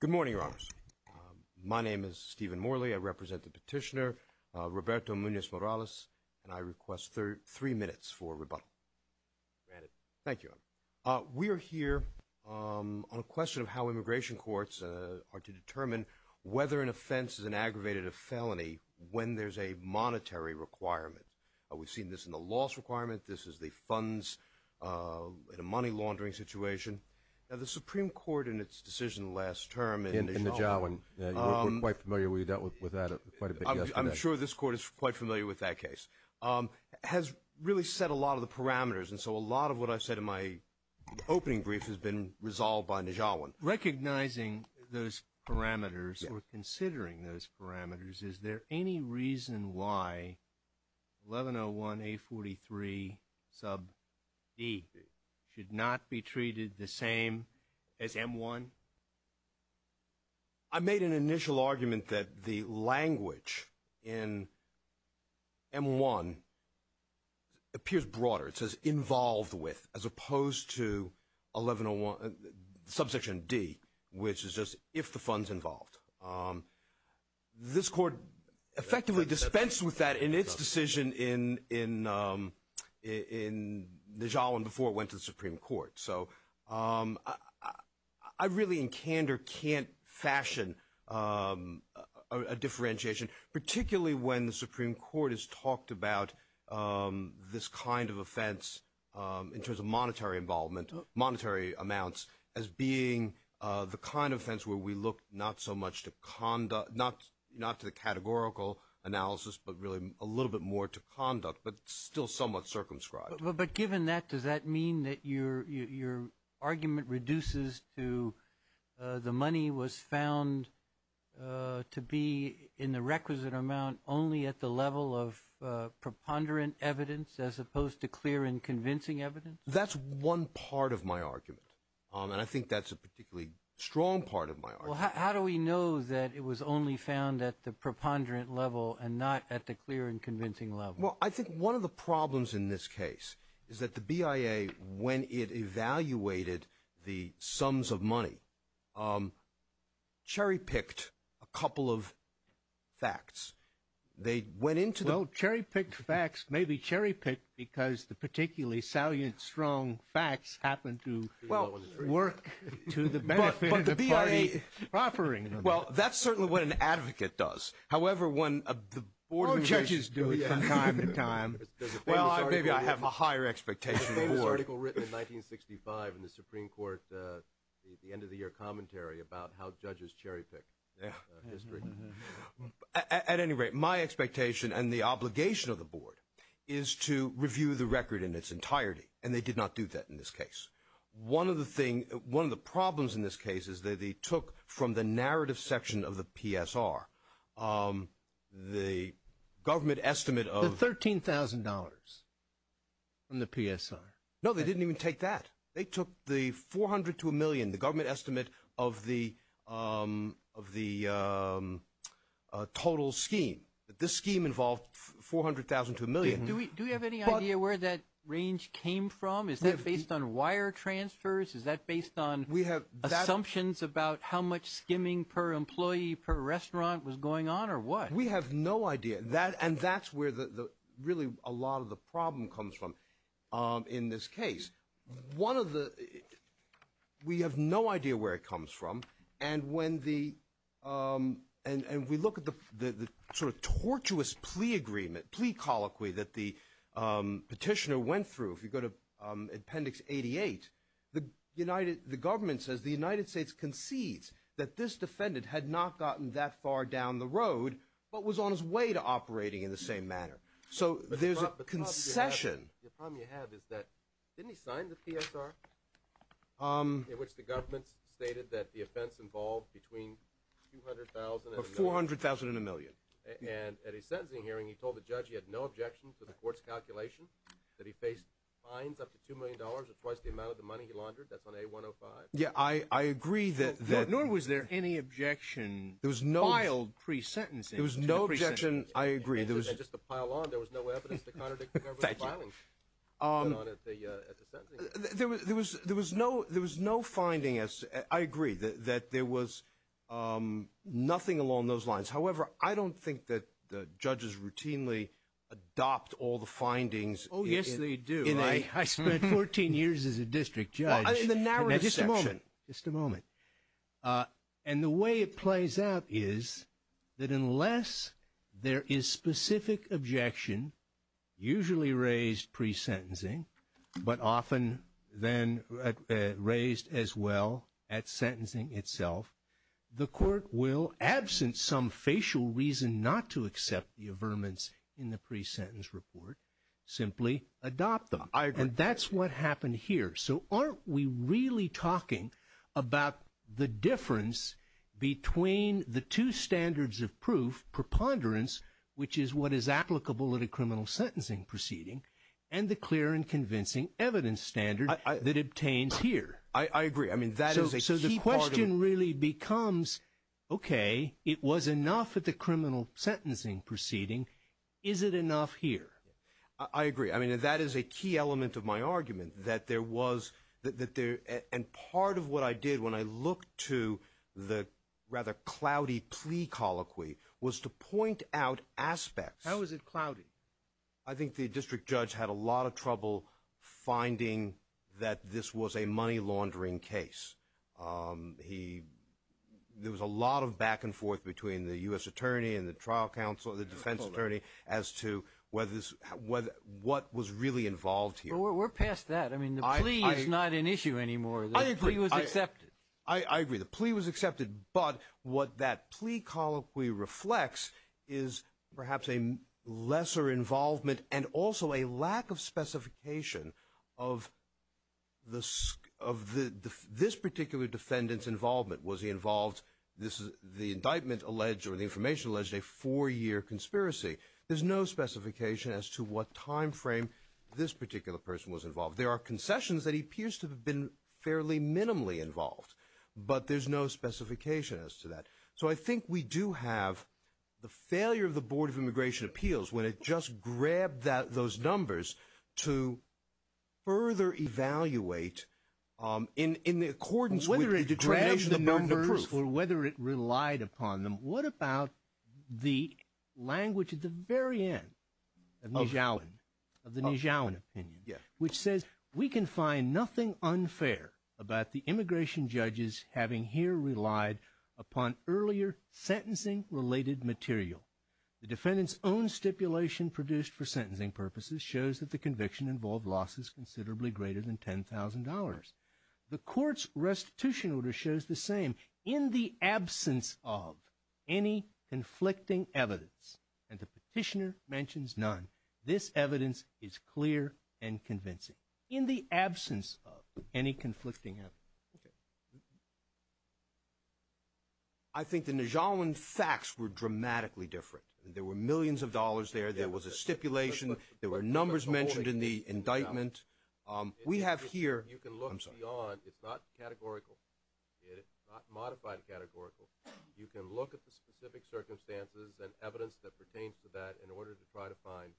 Good morning, Your Honors. My name is Stephen Morley. I represent the petitioner, Roberto Munez-Morales, and I request three minutes for rebuttal. Granted. Thank you, Your Honor. We are here on a question of how immigration courts are to determine whether an offense is an aggravated felony when there's a monetary requirement. We've seen this in the loss requirement. This is the funds in a money laundering situation. Now, the Supreme Court in its decision last term in Nijawin. In Nijawin. We're quite familiar. We dealt with that quite a bit yesterday. I'm sure this Court is quite familiar with that case. Has really set a lot of the parameters, and so a lot of what I've said in my opening brief has been resolved by Nijawin. Recognizing those parameters or considering those parameters, is there any reason why 1101 A43 sub D should not be treated the same as M1? I made an initial argument that the language in M1 appears broader. It says involved with as opposed to 1101 subsection D, which is just if the fund's involved. This Court effectively dispensed with that in its decision in Nijawin before it went to the Supreme Court. I really in candor can't fashion a differentiation, particularly when the Supreme Court has talked about this kind of offense in terms of monetary involvement, monetary amounts, as being the kind of offense where we look not so much to conduct, not to the categorical analysis, but really a little bit more to conduct, but still somewhat circumscribed. But given that, does that mean that your argument reduces to the money was found to be in the requisite amount only at the level of preponderant evidence as opposed to clear and convincing evidence? That's one part of my argument. And I think that's a particularly strong part of my argument. How do we know that it was only found at the preponderant level and not at the clear and convincing level? Well, I think one of the problems in this case is that the BIA, when it evaluated the sums of money, cherry-picked a couple of facts. They went into the- Well, cherry-picked facts may be cherry-picked because the particularly salient, strong facts happen to work to the benefit of the party offering them. Well, that's certainly what an advocate does. However, when the board judges do it from time to time- Well, maybe I have a higher expectation of the board. There's a famous article written in 1965 in the Supreme Court, the end of the year commentary about how judges cherry-pick history. At any rate, my expectation and the obligation of the board is to review the record in its place. One of the problems in this case is that they took from the narrative section of the PSR the government estimate of- The $13,000 from the PSR. No, they didn't even take that. They took the 400 to a million, the government estimate of the total scheme. This scheme involved 400,000 to a million. Do we have any idea where that range came from? Is that based on wire transfers? Is that based on assumptions about how much skimming per employee per restaurant was going on or what? We have no idea. And that's where really a lot of the problem comes from in this case. We have no idea where it comes from. We look at the sort of tortuous plea agreement, plea colloquy that the petitioner went through. If you go to Appendix 88, the government says the United States concedes that this defendant had not gotten that far down the road, but was on his way to operating in the same manner. So there's a concession. The problem you have is that, didn't he sign the PSR in which the government stated that the offense involved between 200,000 and a million? 400,000 and a million. And at a sentencing hearing, he told the judge he had no objection to the court's calculation that he faced fines up to $2 million or twice the amount of the money he laundered. That's on A-105. Yeah, I agree that- Nor was there any objection filed pre-sentencing. There was no objection. I agree. And just to pile on, there was no evidence to contradict the government's filing at the sentencing hearing. There was no finding, I agree, that there was nothing along those lines. However, I don't think that the judges routinely adopt all the findings- Oh, yes, they do. I spent 14 years as a district judge. In the narrowest section. Just a moment. Just a moment. And the way it plays out is that unless there is specific objection, usually raised pre-sentencing, but often then raised as well at sentencing itself, the court will, absent some facial reason not to accept the averments in the pre-sentence report, simply adopt them. I agree. And that's what happened here. So aren't we really talking about the difference between the two standards of proof, preponderance, which is what is applicable at a criminal sentencing proceeding, and the clear and convincing evidence standard that obtains here? I agree. I mean, that is a key part of- So the question really becomes, okay, it was enough at the criminal sentencing proceeding. Is it enough here? I agree. I mean, that is a key element of my argument, that there was, and part of what I did when I looked to the rather cloudy plea colloquy was to point out aspects- How was it cloudy? I think the district judge had a lot of trouble finding that this was a money laundering case. There was a lot of back and forth between the U.S. attorney and the trial counsel, the defense attorney, as to what was really involved here. Well, we're past that. I mean, the plea is not an issue anymore. I agree. The plea was accepted. I agree. The plea was accepted, but what that plea colloquy reflects is perhaps a lesser involvement and also a lack of specification of this particular defendant's involvement. Was he involved? The indictment alleged, or the information alleged, a four-year conspiracy. There's no specification as to what time frame this particular person was involved. There are concessions that he appears to have been fairly minimally involved, but there's no specification as to that. So, I think we do have the failure of the Board of Immigration Appeals when it just grabbed those numbers to further evaluate in accordance with the determination of the burden of proof. Whether it grabbed the numbers or whether it relied upon them, what about the language at the very end of the Nijawan opinion, which says, We can find nothing unfair about the immigration judges having here relied upon earlier sentencing related material. The defendant's own stipulation produced for sentencing purposes shows that the conviction involved losses considerably greater than $10,000. The court's restitution order shows the same. In the absence of any conflicting evidence, and the petitioner mentions none, this evidence is clear and convincing. In the absence of any conflicting evidence. I think the Nijawan facts were dramatically different. There were millions of dollars there. There was a stipulation. There were numbers mentioned in the indictment. You can look beyond. It's not categorical. It's not modified categorical. You can look at the specific circumstances and evidence that pertains to that in order to try to find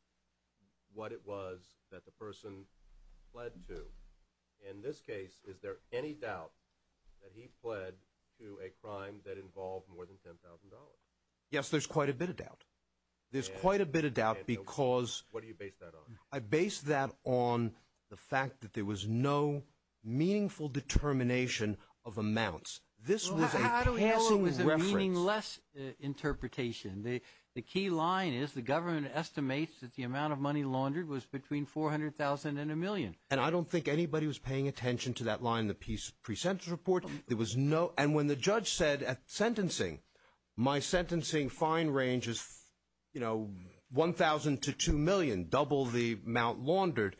what it was that the person pled to. In this case, is there any doubt that he pled to a crime that involved more than $10,000? Yes, there's quite a bit of doubt. There's quite a bit of doubt because What do you base that on? I base that on the fact that there was no meaningful determination of amounts. This was a passing reference. I don't know if it was a meaningless interpretation. The key line is the government estimates that the amount of money laundered was between $400,000 and a million. And I don't think anybody was paying attention to that line in the pre-sentence report. There was no, and when the judge said at sentencing, my sentencing fine range is $1,000 to $2,000,000, double the amount laundered.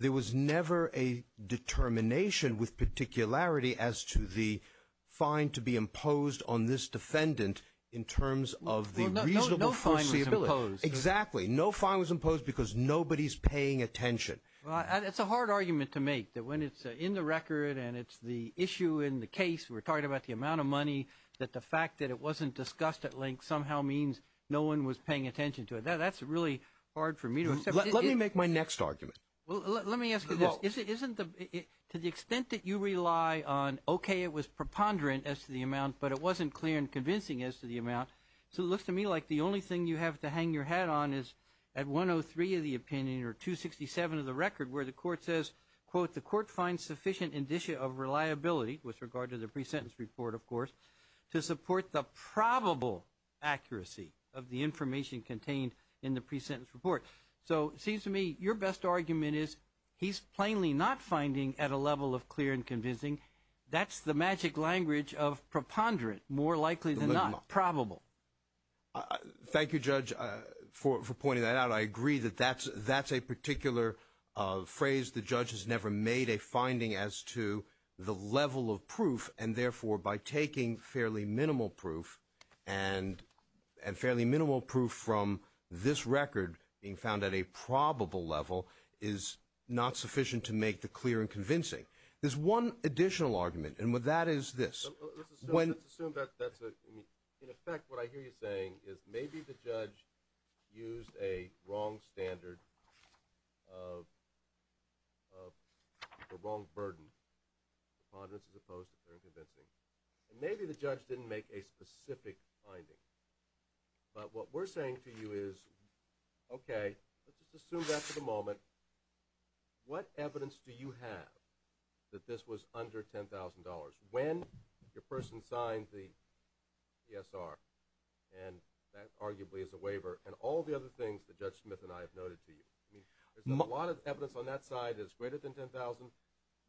There was never a determination with particularity as to the fine to be imposed on this defendant in terms of the reasonable foreseeability. No fine was imposed. Exactly. No fine was imposed because nobody's paying attention. It's a hard argument to make that when it's in the record and it's the issue in the case, we're talking about the amount of money, that the fact that it wasn't discussed at length somehow means no one was paying attention to it. That's really hard for me to accept. Let me make my next argument. Well, let me ask you this. To the extent that you rely on, okay, it was preponderant as to the amount, but it wasn't clear and convincing as to the amount. So it looks to me like the only thing you have to hang your hat on is at 103 of the opinion or 267 of the record where the court says, quote, the court finds sufficient indicia of reliability with regard to the pre-sentence report, of course, to support the probable accuracy of the information contained in the pre-sentence report. So it seems to me your best argument is he's plainly not finding at a level of clear and convincing. That's the magic language of preponderant, more likely than not, probable. Thank you, Judge, for pointing that out. But I agree that that's a particular phrase. The judge has never made a finding as to the level of proof and, therefore, by taking fairly minimal proof and fairly minimal proof from this record being found at a probable level is not sufficient to make the clear and convincing. There's one additional argument, and that is this. Let's assume that that's a – in effect, what I hear you saying is maybe the judge used a wrong standard of – or wrong burden of preponderance as opposed to clear and convincing. And maybe the judge didn't make a specific finding. But what we're saying to you is, okay, let's just assume that for the moment. What evidence do you have that this was under $10,000? When your person signed the PSR, and that arguably is a waiver, and all the other things that Judge Smith and I have noted to you? I mean, there's a lot of evidence on that side that's greater than $10,000.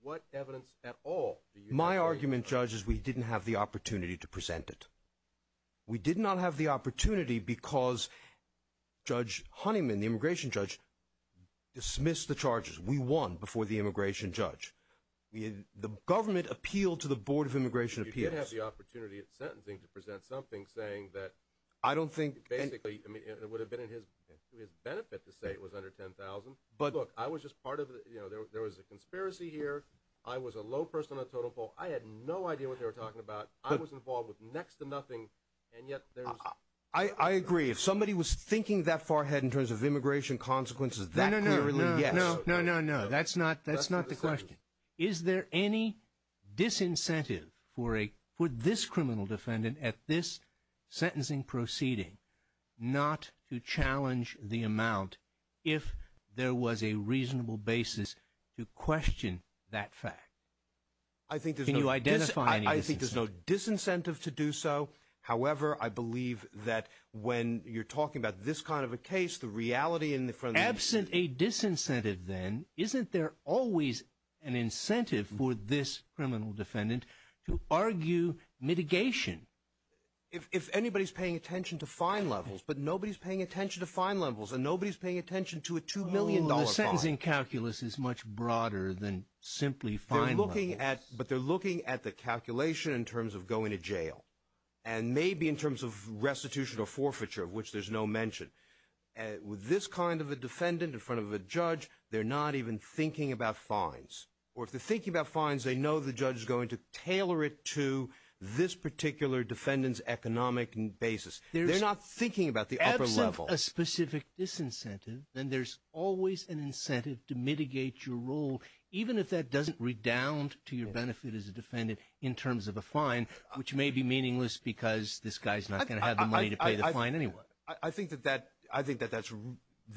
What evidence at all do you have? My argument, Judge, is we didn't have the opportunity to present it. We did not have the opportunity because Judge Honeyman, the immigration judge, dismissed the charges. We won before the immigration judge. The government appealed to the Board of Immigration Appeals. You did have the opportunity at sentencing to present something saying that – I don't think – Basically, it would have been to his benefit to say it was under $10,000. But look, I was just part of – there was a conspiracy here. I was a low person on the total poll. I had no idea what they were talking about. I was involved with next to nothing, and yet there's – I agree. If somebody was thinking that far ahead in terms of immigration consequences, that clearly – No, no, no. No, no, no. That's not the question. Is there any disincentive for this criminal defendant at this sentencing proceeding not to challenge the amount if there was a reasonable basis to question that fact? I think there's no – Can you identify any disincentive? I think there's no disincentive to do so. However, I believe that when you're talking about this kind of a case, the reality in front of you – I think that there's always an incentive for this criminal defendant to argue mitigation. If anybody's paying attention to fine levels, but nobody's paying attention to fine levels, and nobody's paying attention to a $2 million bond – The sentencing calculus is much broader than simply fine levels. They're looking at – but they're looking at the calculation in terms of going to jail and maybe in terms of restitution or forfeiture, of which there's no mention. With this kind of a defendant in front of a judge, they're not even thinking about fines. Or if they're thinking about fines, they know the judge is going to tailor it to this particular defendant's economic basis. They're not thinking about the upper level. Absent a specific disincentive, then there's always an incentive to mitigate your role, even if that doesn't redound to your benefit as a defendant in terms of a fine, which may be meaningless because this guy's not going to have the money to pay the fine anyway. I think that that – I think that that's –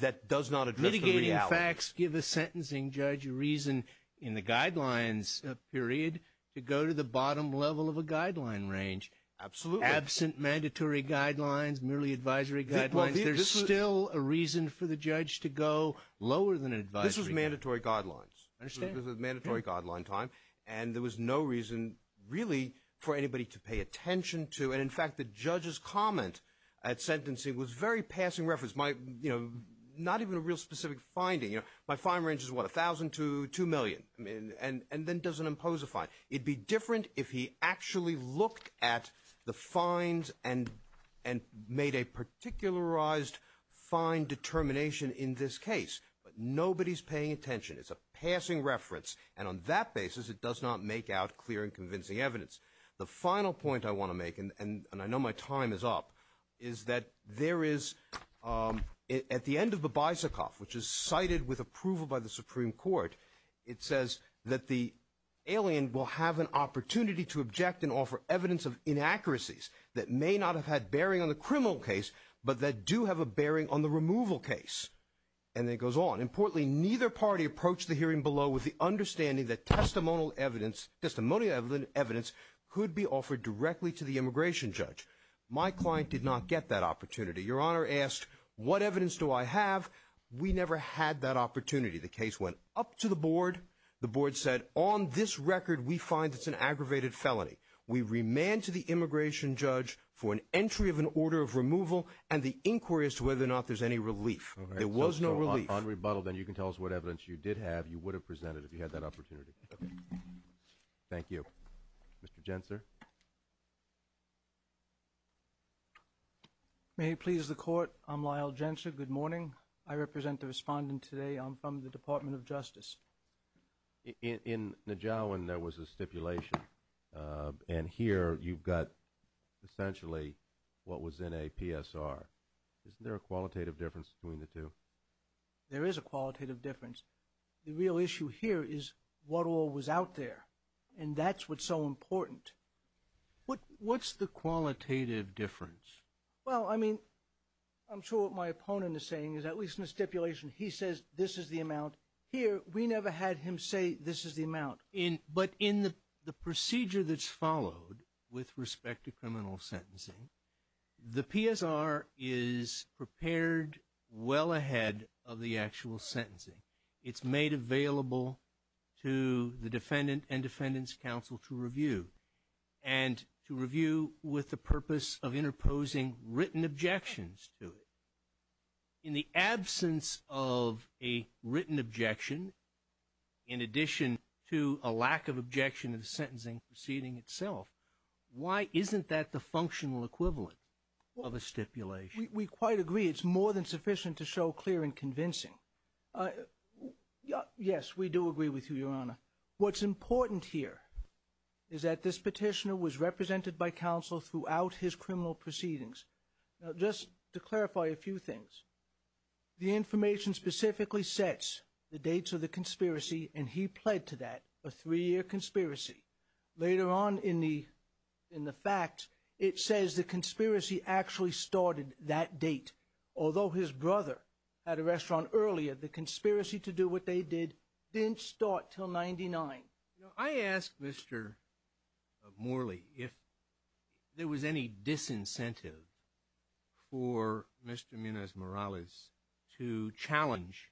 that does not address the reality. Mitigating facts give a sentencing judge a reason in the guidelines period to go to the bottom level of a guideline range. Absolutely. Absent mandatory guidelines, merely advisory guidelines, there's still a reason for the judge to go lower than advisory. This was mandatory guidelines. I understand. This was a mandatory guideline time, and there was no reason really for anybody to pay attention to. And in fact, the judge's comment at sentencing was very passing reference. My – not even a real specific finding. My fine range is, what, $1,000 to $2 million, and then doesn't impose a fine. It'd be different if he actually looked at the fines and made a particularized fine determination in this case. But nobody's paying attention. It's a passing reference, and on that basis, it does not make out clear and convincing evidence. The final point I want to make, and I know my time is up, is that there is – at the end of the Beisikoff, which is cited with approval by the Supreme Court, it says that the alien will have an opportunity to object and offer evidence of inaccuracies that may not have had bearing on the criminal case, but that do have a bearing on the removal case. And then it goes on. Importantly, neither party approached the hearing below with the understanding that testimonial evidence could be offered directly to the immigration judge. My client did not get that opportunity. Your Honor asked, what evidence do I have? We never had that opportunity. The case went up to the board. The board said, on this record, we find it's an aggravated felony. We remand to the immigration judge for an entry of an order of removal and the inquiry as to whether or not there's any relief. There was no relief. If you're on rebuttal, then you can tell us what evidence you did have you would have presented if you had that opportunity. Okay. Thank you. Mr. Jentzer? May it please the Court, I'm Lyle Jentzer. Good morning. I represent the respondent today. I'm from the Department of Justice. In Nijawin, there was a stipulation. And here, you've got essentially what was in a PSR. Isn't there a qualitative difference between the two? There is a qualitative difference. The real issue here is what all was out there. And that's what's so important. What's the qualitative difference? Well, I mean, I'm sure what my opponent is saying is, at least in the stipulation, he says this is the amount. Here, we never had him say this is the amount. But in the procedure that's followed with respect to criminal sentencing, the PSR is prepared well ahead of the actual sentencing. It's made available to the defendant and defendant's counsel to review, and to review with the purpose of interposing written objections to it. In the absence of a written objection, in addition to a lack of objection in the sentencing proceeding itself, why isn't that the functional equivalent of a stipulation? We quite agree. It's more than sufficient to show clear and convincing. Yes, we do agree with you, Your Honor. What's important here is that this petitioner was represented by counsel throughout his criminal proceedings. Now, just to clarify a few things. The information specifically sets the dates of the conspiracy, and he pled to that, a three-year conspiracy. Later on in the fact, it says the conspiracy actually started that date. Although his brother had a restaurant earlier, the conspiracy to do what they did didn't start till 99. I asked Mr. Morley if there was any disincentive for Mr. Munoz-Morales to challenge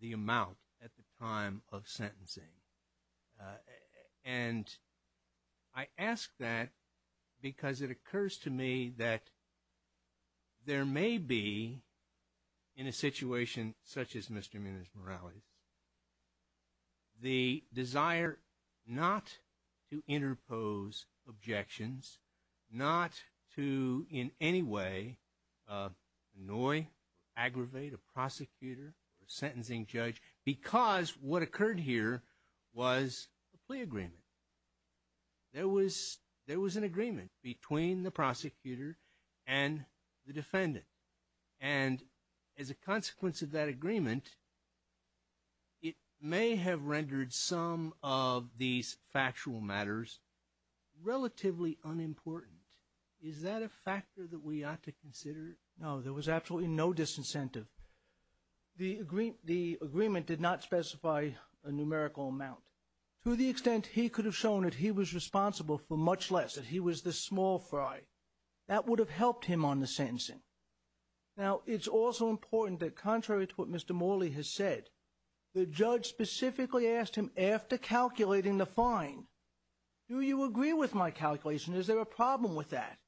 the amount at the time of sentencing. And I ask that because it occurs to me that there may be, in a situation such as Mr. Munoz-Morales, the desire not to interpose objections, not to in any way annoy, aggravate a prosecutor or a sentencing judge, because what occurred here was a plea agreement. There was an agreement between the prosecutor and the defendant. And as a consequence of that agreement, it may have rendered some of these factual matters relatively unimportant. Is that a factor that we ought to consider? No, there was absolutely no disincentive. The agreement did not specify a numerical amount to the extent he could have shown that he was responsible for much less, that he was the small fry. That would have helped him on the sentencing. Now, it's also important that contrary to what Mr. Morley has said, the judge specifically asked him after calculating the fine, do you agree with my calculation? Is there a problem with that?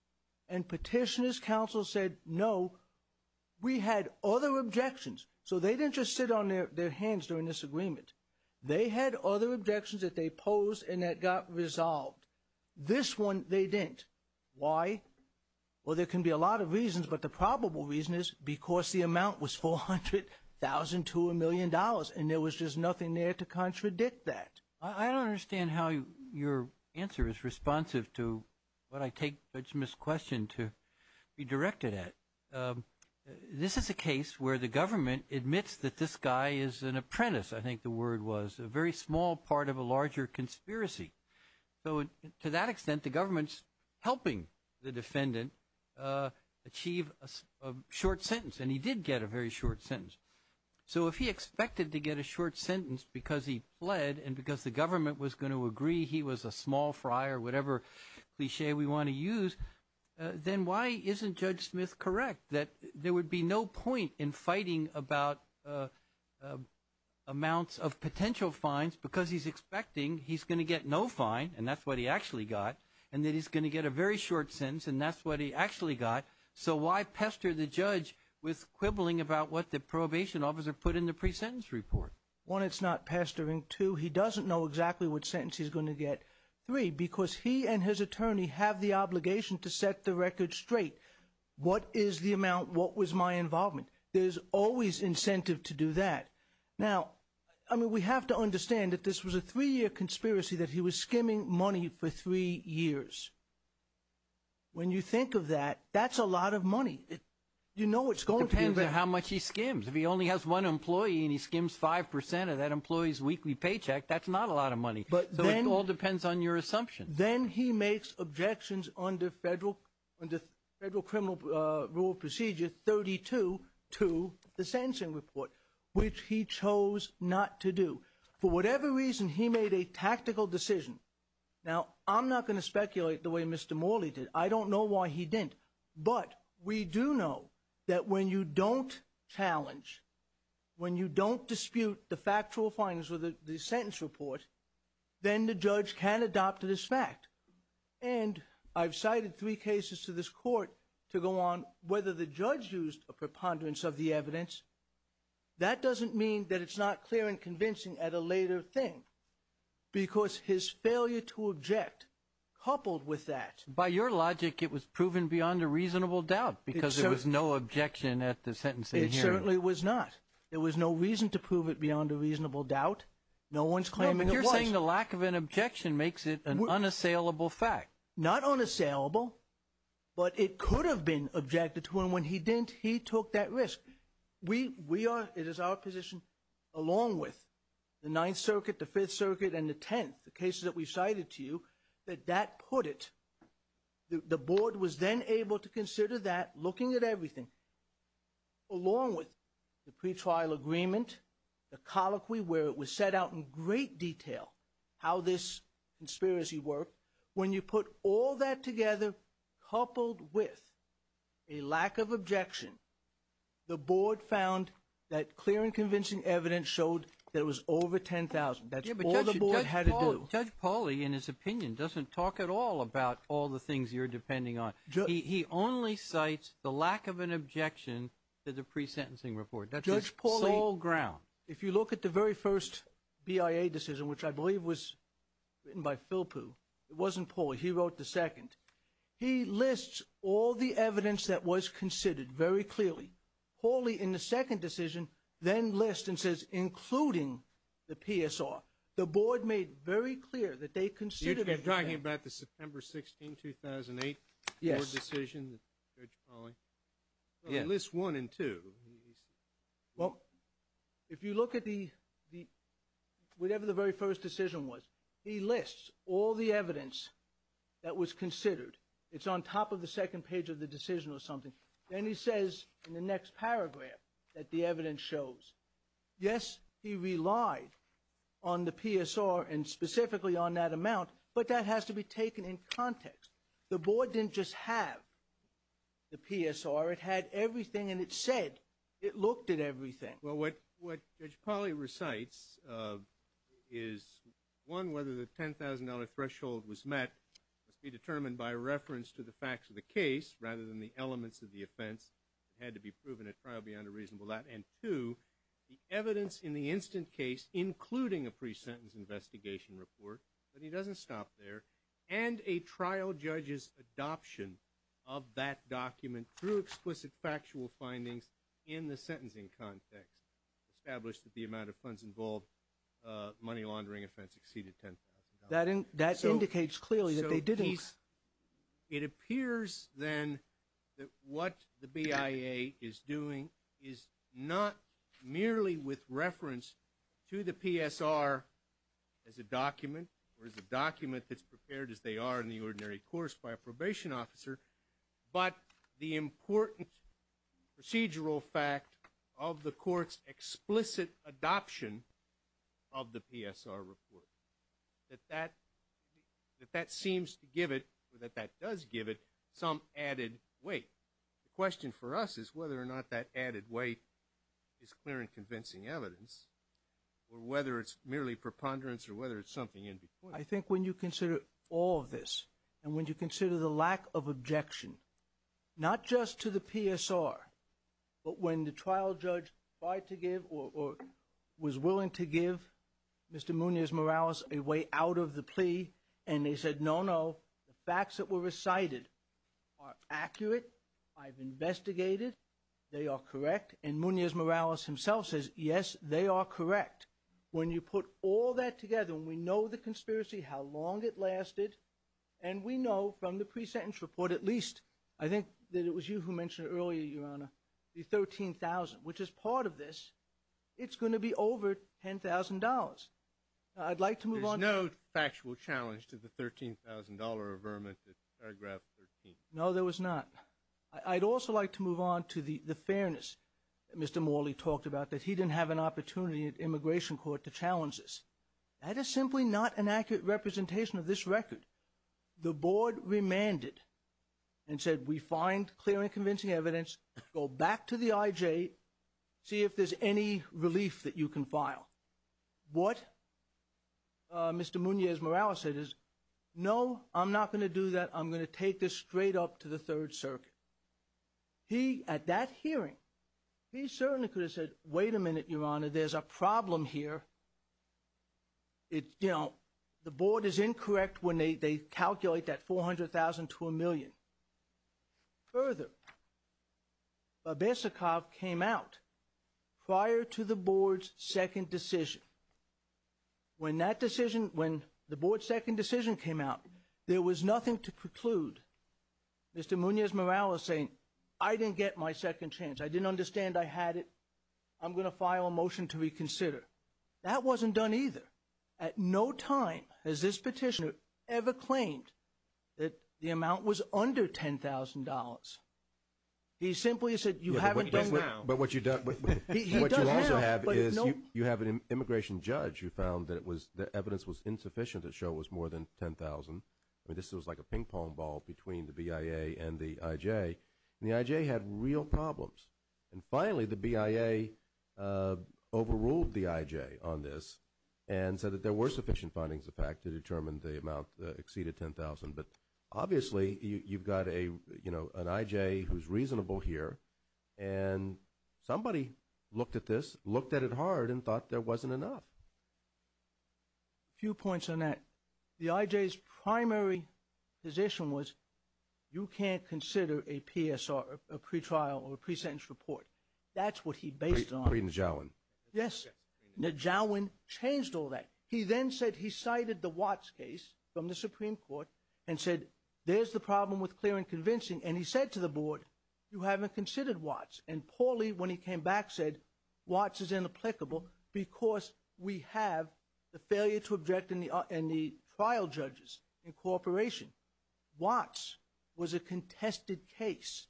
And Petitioner's Counsel said, no, we had other objections. So they didn't just sit on their hands during this agreement. They had other objections that they posed and that got resolved. This one, they didn't. Why? Well, there can be a lot of reasons, but the probable reason is because the amount was $400,000 to a million dollars, and there was just nothing there to contradict that. I don't understand how your answer is responsive to what I take Judge Smith's question to be directed at. This is a case where the government admits that this guy is an apprentice, I think the word was, a very small part of a larger conspiracy. So to that extent, the government's helping the defendant achieve a short sentence, and he did get a very short sentence. So if he expected to get a short sentence because he pled and because the government was going to agree he was a small fry or whatever cliche we want to use, then why isn't Judge Smith correct that there would be no point in fighting about amounts of potential fines because he's expecting he's going to get no fine, and that's what he actually got, and that he's going to get a very short sentence, and that's what he actually got. So why pester the judge with quibbling about what the probation officer put in the pre-sentence report? One, it's not pestering. Two, he doesn't know exactly what sentence he's going to get. Three, because he and his attorney have the obligation to set the record straight. What is the amount? What was my involvement? There's always incentive to do that. Now, I mean, we have to understand that this was a three-year conspiracy that he was skimming money for three years. When you think of that, that's a lot of money. You know it's going to be... It depends on how much he skims. If he only has one employee and he skims 5% of that employee's weekly paycheck, that's not a lot of money. So it all depends on your assumption. Then he makes objections under federal criminal rule procedure 32 to the sentencing report, which he chose not to do. For whatever reason, he made a tactical decision. Now, I'm not going to speculate the way Mr. Morley did. I don't know why he didn't. But we do know that when you don't challenge, when you don't dispute the factual findings of the sentence report, then the judge can adopt it as fact. And I've cited three cases to this court to go on whether the judge used a preponderance of the evidence. That doesn't mean that it's not clear and convincing at a later thing, because his failure to object coupled with that... By your logic, it was proven beyond a reasonable doubt because there was no objection at the sentencing hearing. It certainly was not. There was no reason to prove it beyond a reasonable doubt. No-one's claiming it was. No, but you're saying the lack of an objection makes it an unassailable fact. Not unassailable, but it could have been objected to, and when he didn't, he took that risk. We are... It is our position, along with the Ninth Circuit, the Fifth Circuit and the Tenth, the cases that we've cited to you, that that put it... The board was then able to consider that, looking at everything, along with the pretrial agreement, the colloquy where it was set out in great detail, how this conspiracy worked. When you put all that together, coupled with a lack of objection, the board found that clear and convincing evidence showed that it was over 10,000. That's all the board had to do. Judge Pauly, in his opinion, doesn't talk at all about all the things you're depending on. He only cites the lack of an objection to the pre-sentencing report. Judge Pauly... That's his sole ground. If you look at the very first BIA decision, which I believe was written by Philpoo, it wasn't Pauly, he wrote the second. He lists all the evidence that was considered very clearly. Pauly, in the second decision, then lists and says, including the PSR. The board made very clear that they considered... You're talking about the September 16, 2008... Yes. Judge Pauly. He lists one and two. Well, if you look at the... Whatever the very first decision was, he lists all the evidence that was considered. It's on top of the second page of the decision or something. Then he says, in the next paragraph, that the evidence shows, yes, he relied on the PSR, and specifically on that amount, but that has to be taken in context. The board didn't just have the PSR. It had everything, and it said... It looked at everything. Well, what Judge Pauly recites is, one, whether the $10,000 threshold was met must be determined by reference to the facts of the case rather than the elements of the offence. It had to be proven at trial beyond a reasonable doubt. And two, the evidence in the instant case, including a pre-sentence investigation report... But he doesn't stop there. ...and a trial judge's adoption of that document through explicit factual findings in the sentencing context established that the amount of funds involved, money-laundering offence, exceeded $10,000. That indicates clearly that they didn't. So he's... It appears, then, that what the BIA is doing is not merely with reference to the PSR as a document or as a document that's prepared as they are in the ordinary course by a probation officer, but the important procedural fact of the court's explicit adoption of the PSR report, that that seems to give it, or that that does give it, some added weight. The question for us is whether or not that added weight is clear and convincing evidence or whether it's merely preponderance or whether it's something in between. I think when you consider all of this and when you consider the lack of objection, not just to the PSR, but when the trial judge tried to give or was willing to give Mr. Munoz-Morales a way out of the plea and they said, no, no, the facts that were recited are accurate, I've investigated, they are correct, and Munoz-Morales himself says, yes, they are correct. When you put all that together, when we know the conspiracy, how long it lasted, and we know from the pre-sentence report, at least, I think that it was you who mentioned earlier, Your Honor, the $13,000, which is part of this, it's going to be over $10,000. I'd like to move on... There's no factual challenge to the $13,000 averment at paragraph 13. No, there was not. I'd also like to move on to the fairness that Mr. Morley talked about, that he didn't have an opportunity at immigration court to challenge this. That is simply not an accurate representation of this record. The board remanded and said, we find clear and convincing evidence, go back to the IJ, see if there's any relief that you can file. What Mr. Munoz-Morales said is, no, I'm not going to do that, I'm going to take this straight up to the Third Circuit. He, at that hearing, he certainly could have said, wait a minute, Your Honor, there's a problem here. You know, the board is incorrect when they calculate that $400,000 to a million. Further, Babesnikov came out prior to the board's second decision. When that decision, when the board's second decision came out, there was nothing to preclude. Mr. Munoz-Morales saying, I didn't get my second chance, I didn't understand I had it, I'm going to file a motion to reconsider. That wasn't done either. At no time has this petitioner ever claimed that the amount was under $10,000. He simply said, you haven't done now. But what you also have is, you have an immigration judge who found that the evidence was insufficient to show it was more than $10,000. I mean, this was like a ping-pong ball between the BIA and the IJ. And the IJ had real problems. And finally, the BIA overruled the IJ on this and said that there were sufficient findings of fact to determine the amount exceeded $10,000. But obviously, you've got a, you know, an IJ who's reasonable here, and somebody looked at this, looked at it hard, and thought there wasn't enough. A few points on that. The IJ's primary position was, you can't consider a PSR, a pretrial or a pre-sentence report. That's what he based it on. Najawen. Yes. Najawen changed all that. He then said he cited the Watts case from the Supreme Court and said, there's the problem with clear and convincing. And he said to the board, you haven't considered Watts. And Pauli, when he came back, said, Watts is inapplicable because we have the failure to object in the trial judges incorporation. Watts was a contested case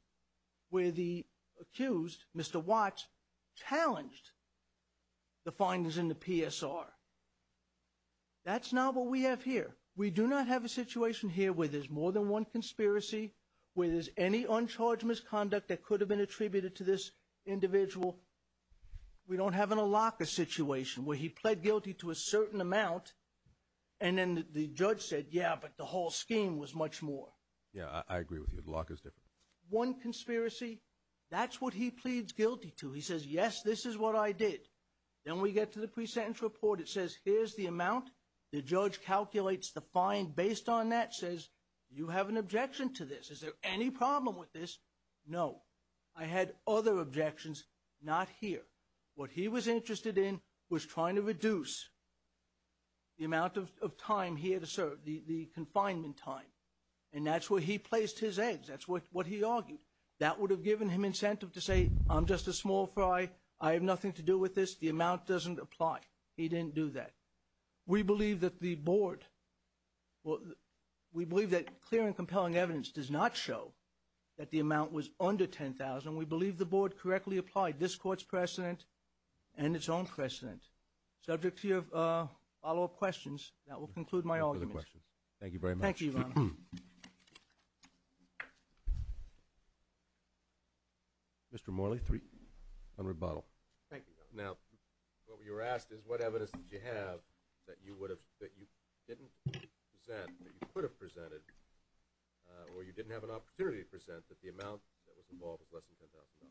where the accused, Mr. Watts, challenged the findings in the PSR. That's not what we have here. We do not have a situation here where there's more than one conspiracy, where there's any uncharged misconduct that could have been attributed to this individual. We don't have in a locker situation where he pled guilty to a certain amount, and then the judge said, yeah, but the whole scheme was much more. Yeah, I agree with you. The lock is different. One conspiracy, that's what he pleads guilty to. He says, yes, this is what I did. Then we get to the pre-sentence report. It says, here's the amount. The judge calculates the fine based on that, says, you have an objection to this. Is there any problem with this? I had other objections, not here. What he was interested in was trying to reduce the amount of time he had to serve, the confinement time. And that's where he placed his eggs. That's what he argued. That would have given him incentive to say, I'm just a small fry. I have nothing to do with this. The amount doesn't apply. He didn't do that. We believe that the board, we believe that clear and compelling evidence does not show that the amount was under $10,000. We believe the board correctly applied this court's precedent and its own precedent. Subject to your follow-up questions, that will conclude my argument. Thank you, Your Honor. Mr. Morley, on rebuttal. Thank you, Your Honor. Now, what you were asked is, what evidence did you have that you didn't present, that you could have presented, or you didn't have an opportunity to present, that the amount that was involved was less than $10,000?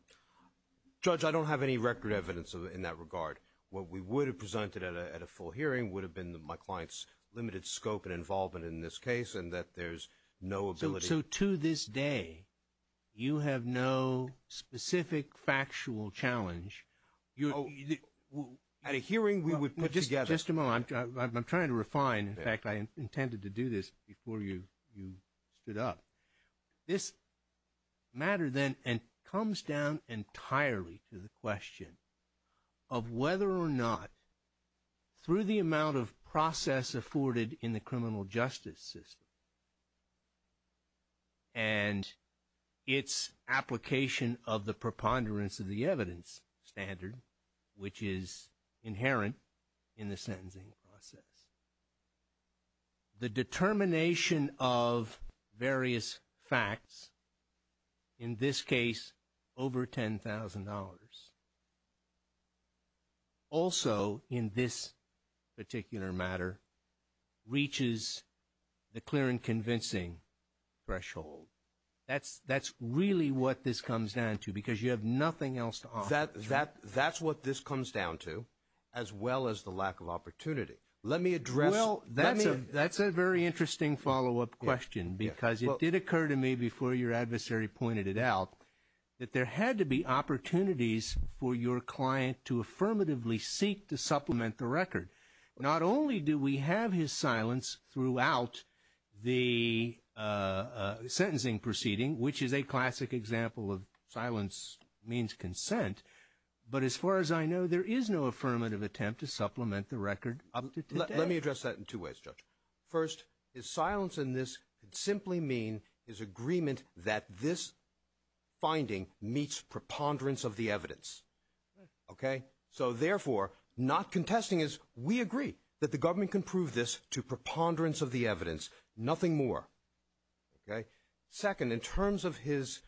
Judge, I don't have any record evidence in that regard. What we would have presented at a full hearing would have been my client's limited scope and involvement in this case, and that there's no ability... So to this day, you have no specific factual challenge? At a hearing, we would put together... Just a moment. I'm trying to refine. In fact, I intended to do this before you stood up. This matter then comes down entirely to the question of whether or not through the amount of process afforded in the criminal justice system and its application of the preponderance of the evidence standard, which is inherent in the sentencing process, the determination of various facts, in this case, over $10,000 also in this particular matter reaches the clear and convincing threshold. That's really what this comes down to because you have nothing else to offer. That's what this comes down to as well as the lack of opportunity. Let me address... That's a very interesting follow-up question because it did occur to me before your adversary pointed it out that there had to be opportunities for your client to affirmatively seek to supplement the record. Not only do we have his silence throughout the sentencing proceeding, which is a classic example of silence means consent, but as far as I know, there is no affirmative attempt to supplement the record. Let me address that in two ways, Judge. First, his silence in this could simply mean his agreement that this finding meets preponderance of the evidence. Therefore, not contesting is we agree that the government can prove this to preponderance of the evidence. Nothing more. Second, in terms of his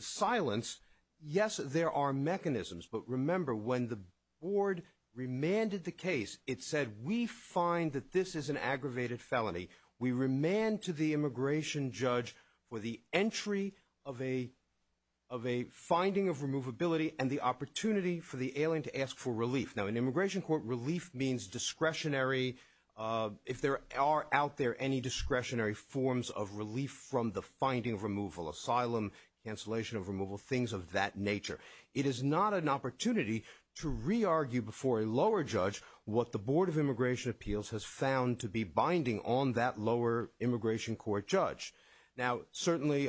silence, yes, there are mechanisms, but remember, when the board remanded the case, it said, we find that this is an aggravated felony. We remand to the immigration judge for the entry of a finding of removability and the opportunity for the alien to ask for relief. Now, in immigration court, relief means discretionary if there are out there any discretionary forms of relief from the finding of removal. Asylum, cancellation of removal, things of that nature. It is not an opportunity to do that. That is what the board of immigration appeals has found to be binding on that lower immigration court judge. Now, certainly,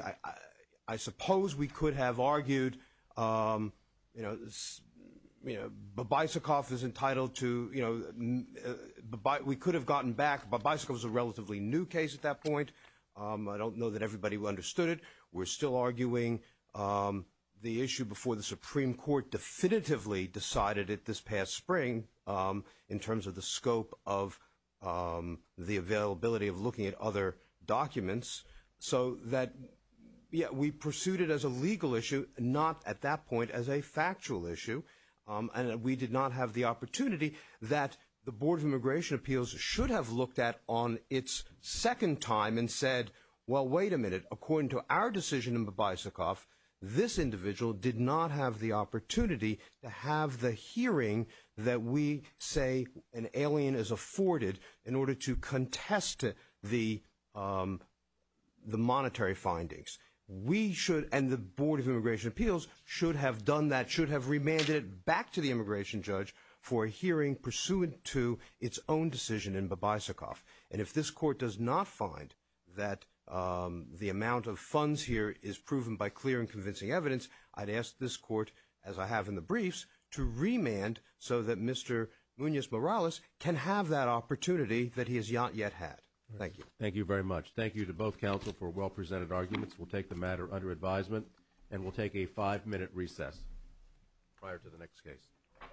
I suppose we could have argued Babysakov is entitled to we could have gotten back Babysakov is a relatively new case at that point. I don't know that everybody understood it. We're still arguing the issue before the Supreme Court definitively decided it this past spring in terms of the scope of the availability of looking at other documents so that we pursued it as a legal issue not at that point as a factual issue and we did not have the opportunity that the board of immigration appeals should have looked at on its second time and said, well, wait a minute. According to our decision in Babysakov this individual did not have the opportunity to have the hearing that we say an alien is afforded in order to contest the monetary findings. We should and the board of immigration appeals should have done that, should have remanded it back to the immigration judge for a hearing pursuant to its own decision in Babysakov and if this court does not find that the amount of funds here is proven by clear and convincing evidence, I'd ask this court as I have in the briefs to remand so that Mr. Munoz Morales can have that opportunity that he has not yet had. Thank you. Thank you very much. Thank you to both counsel for well presented arguments. We'll take the matter under advisement and we'll take a five minute recess prior to the next case.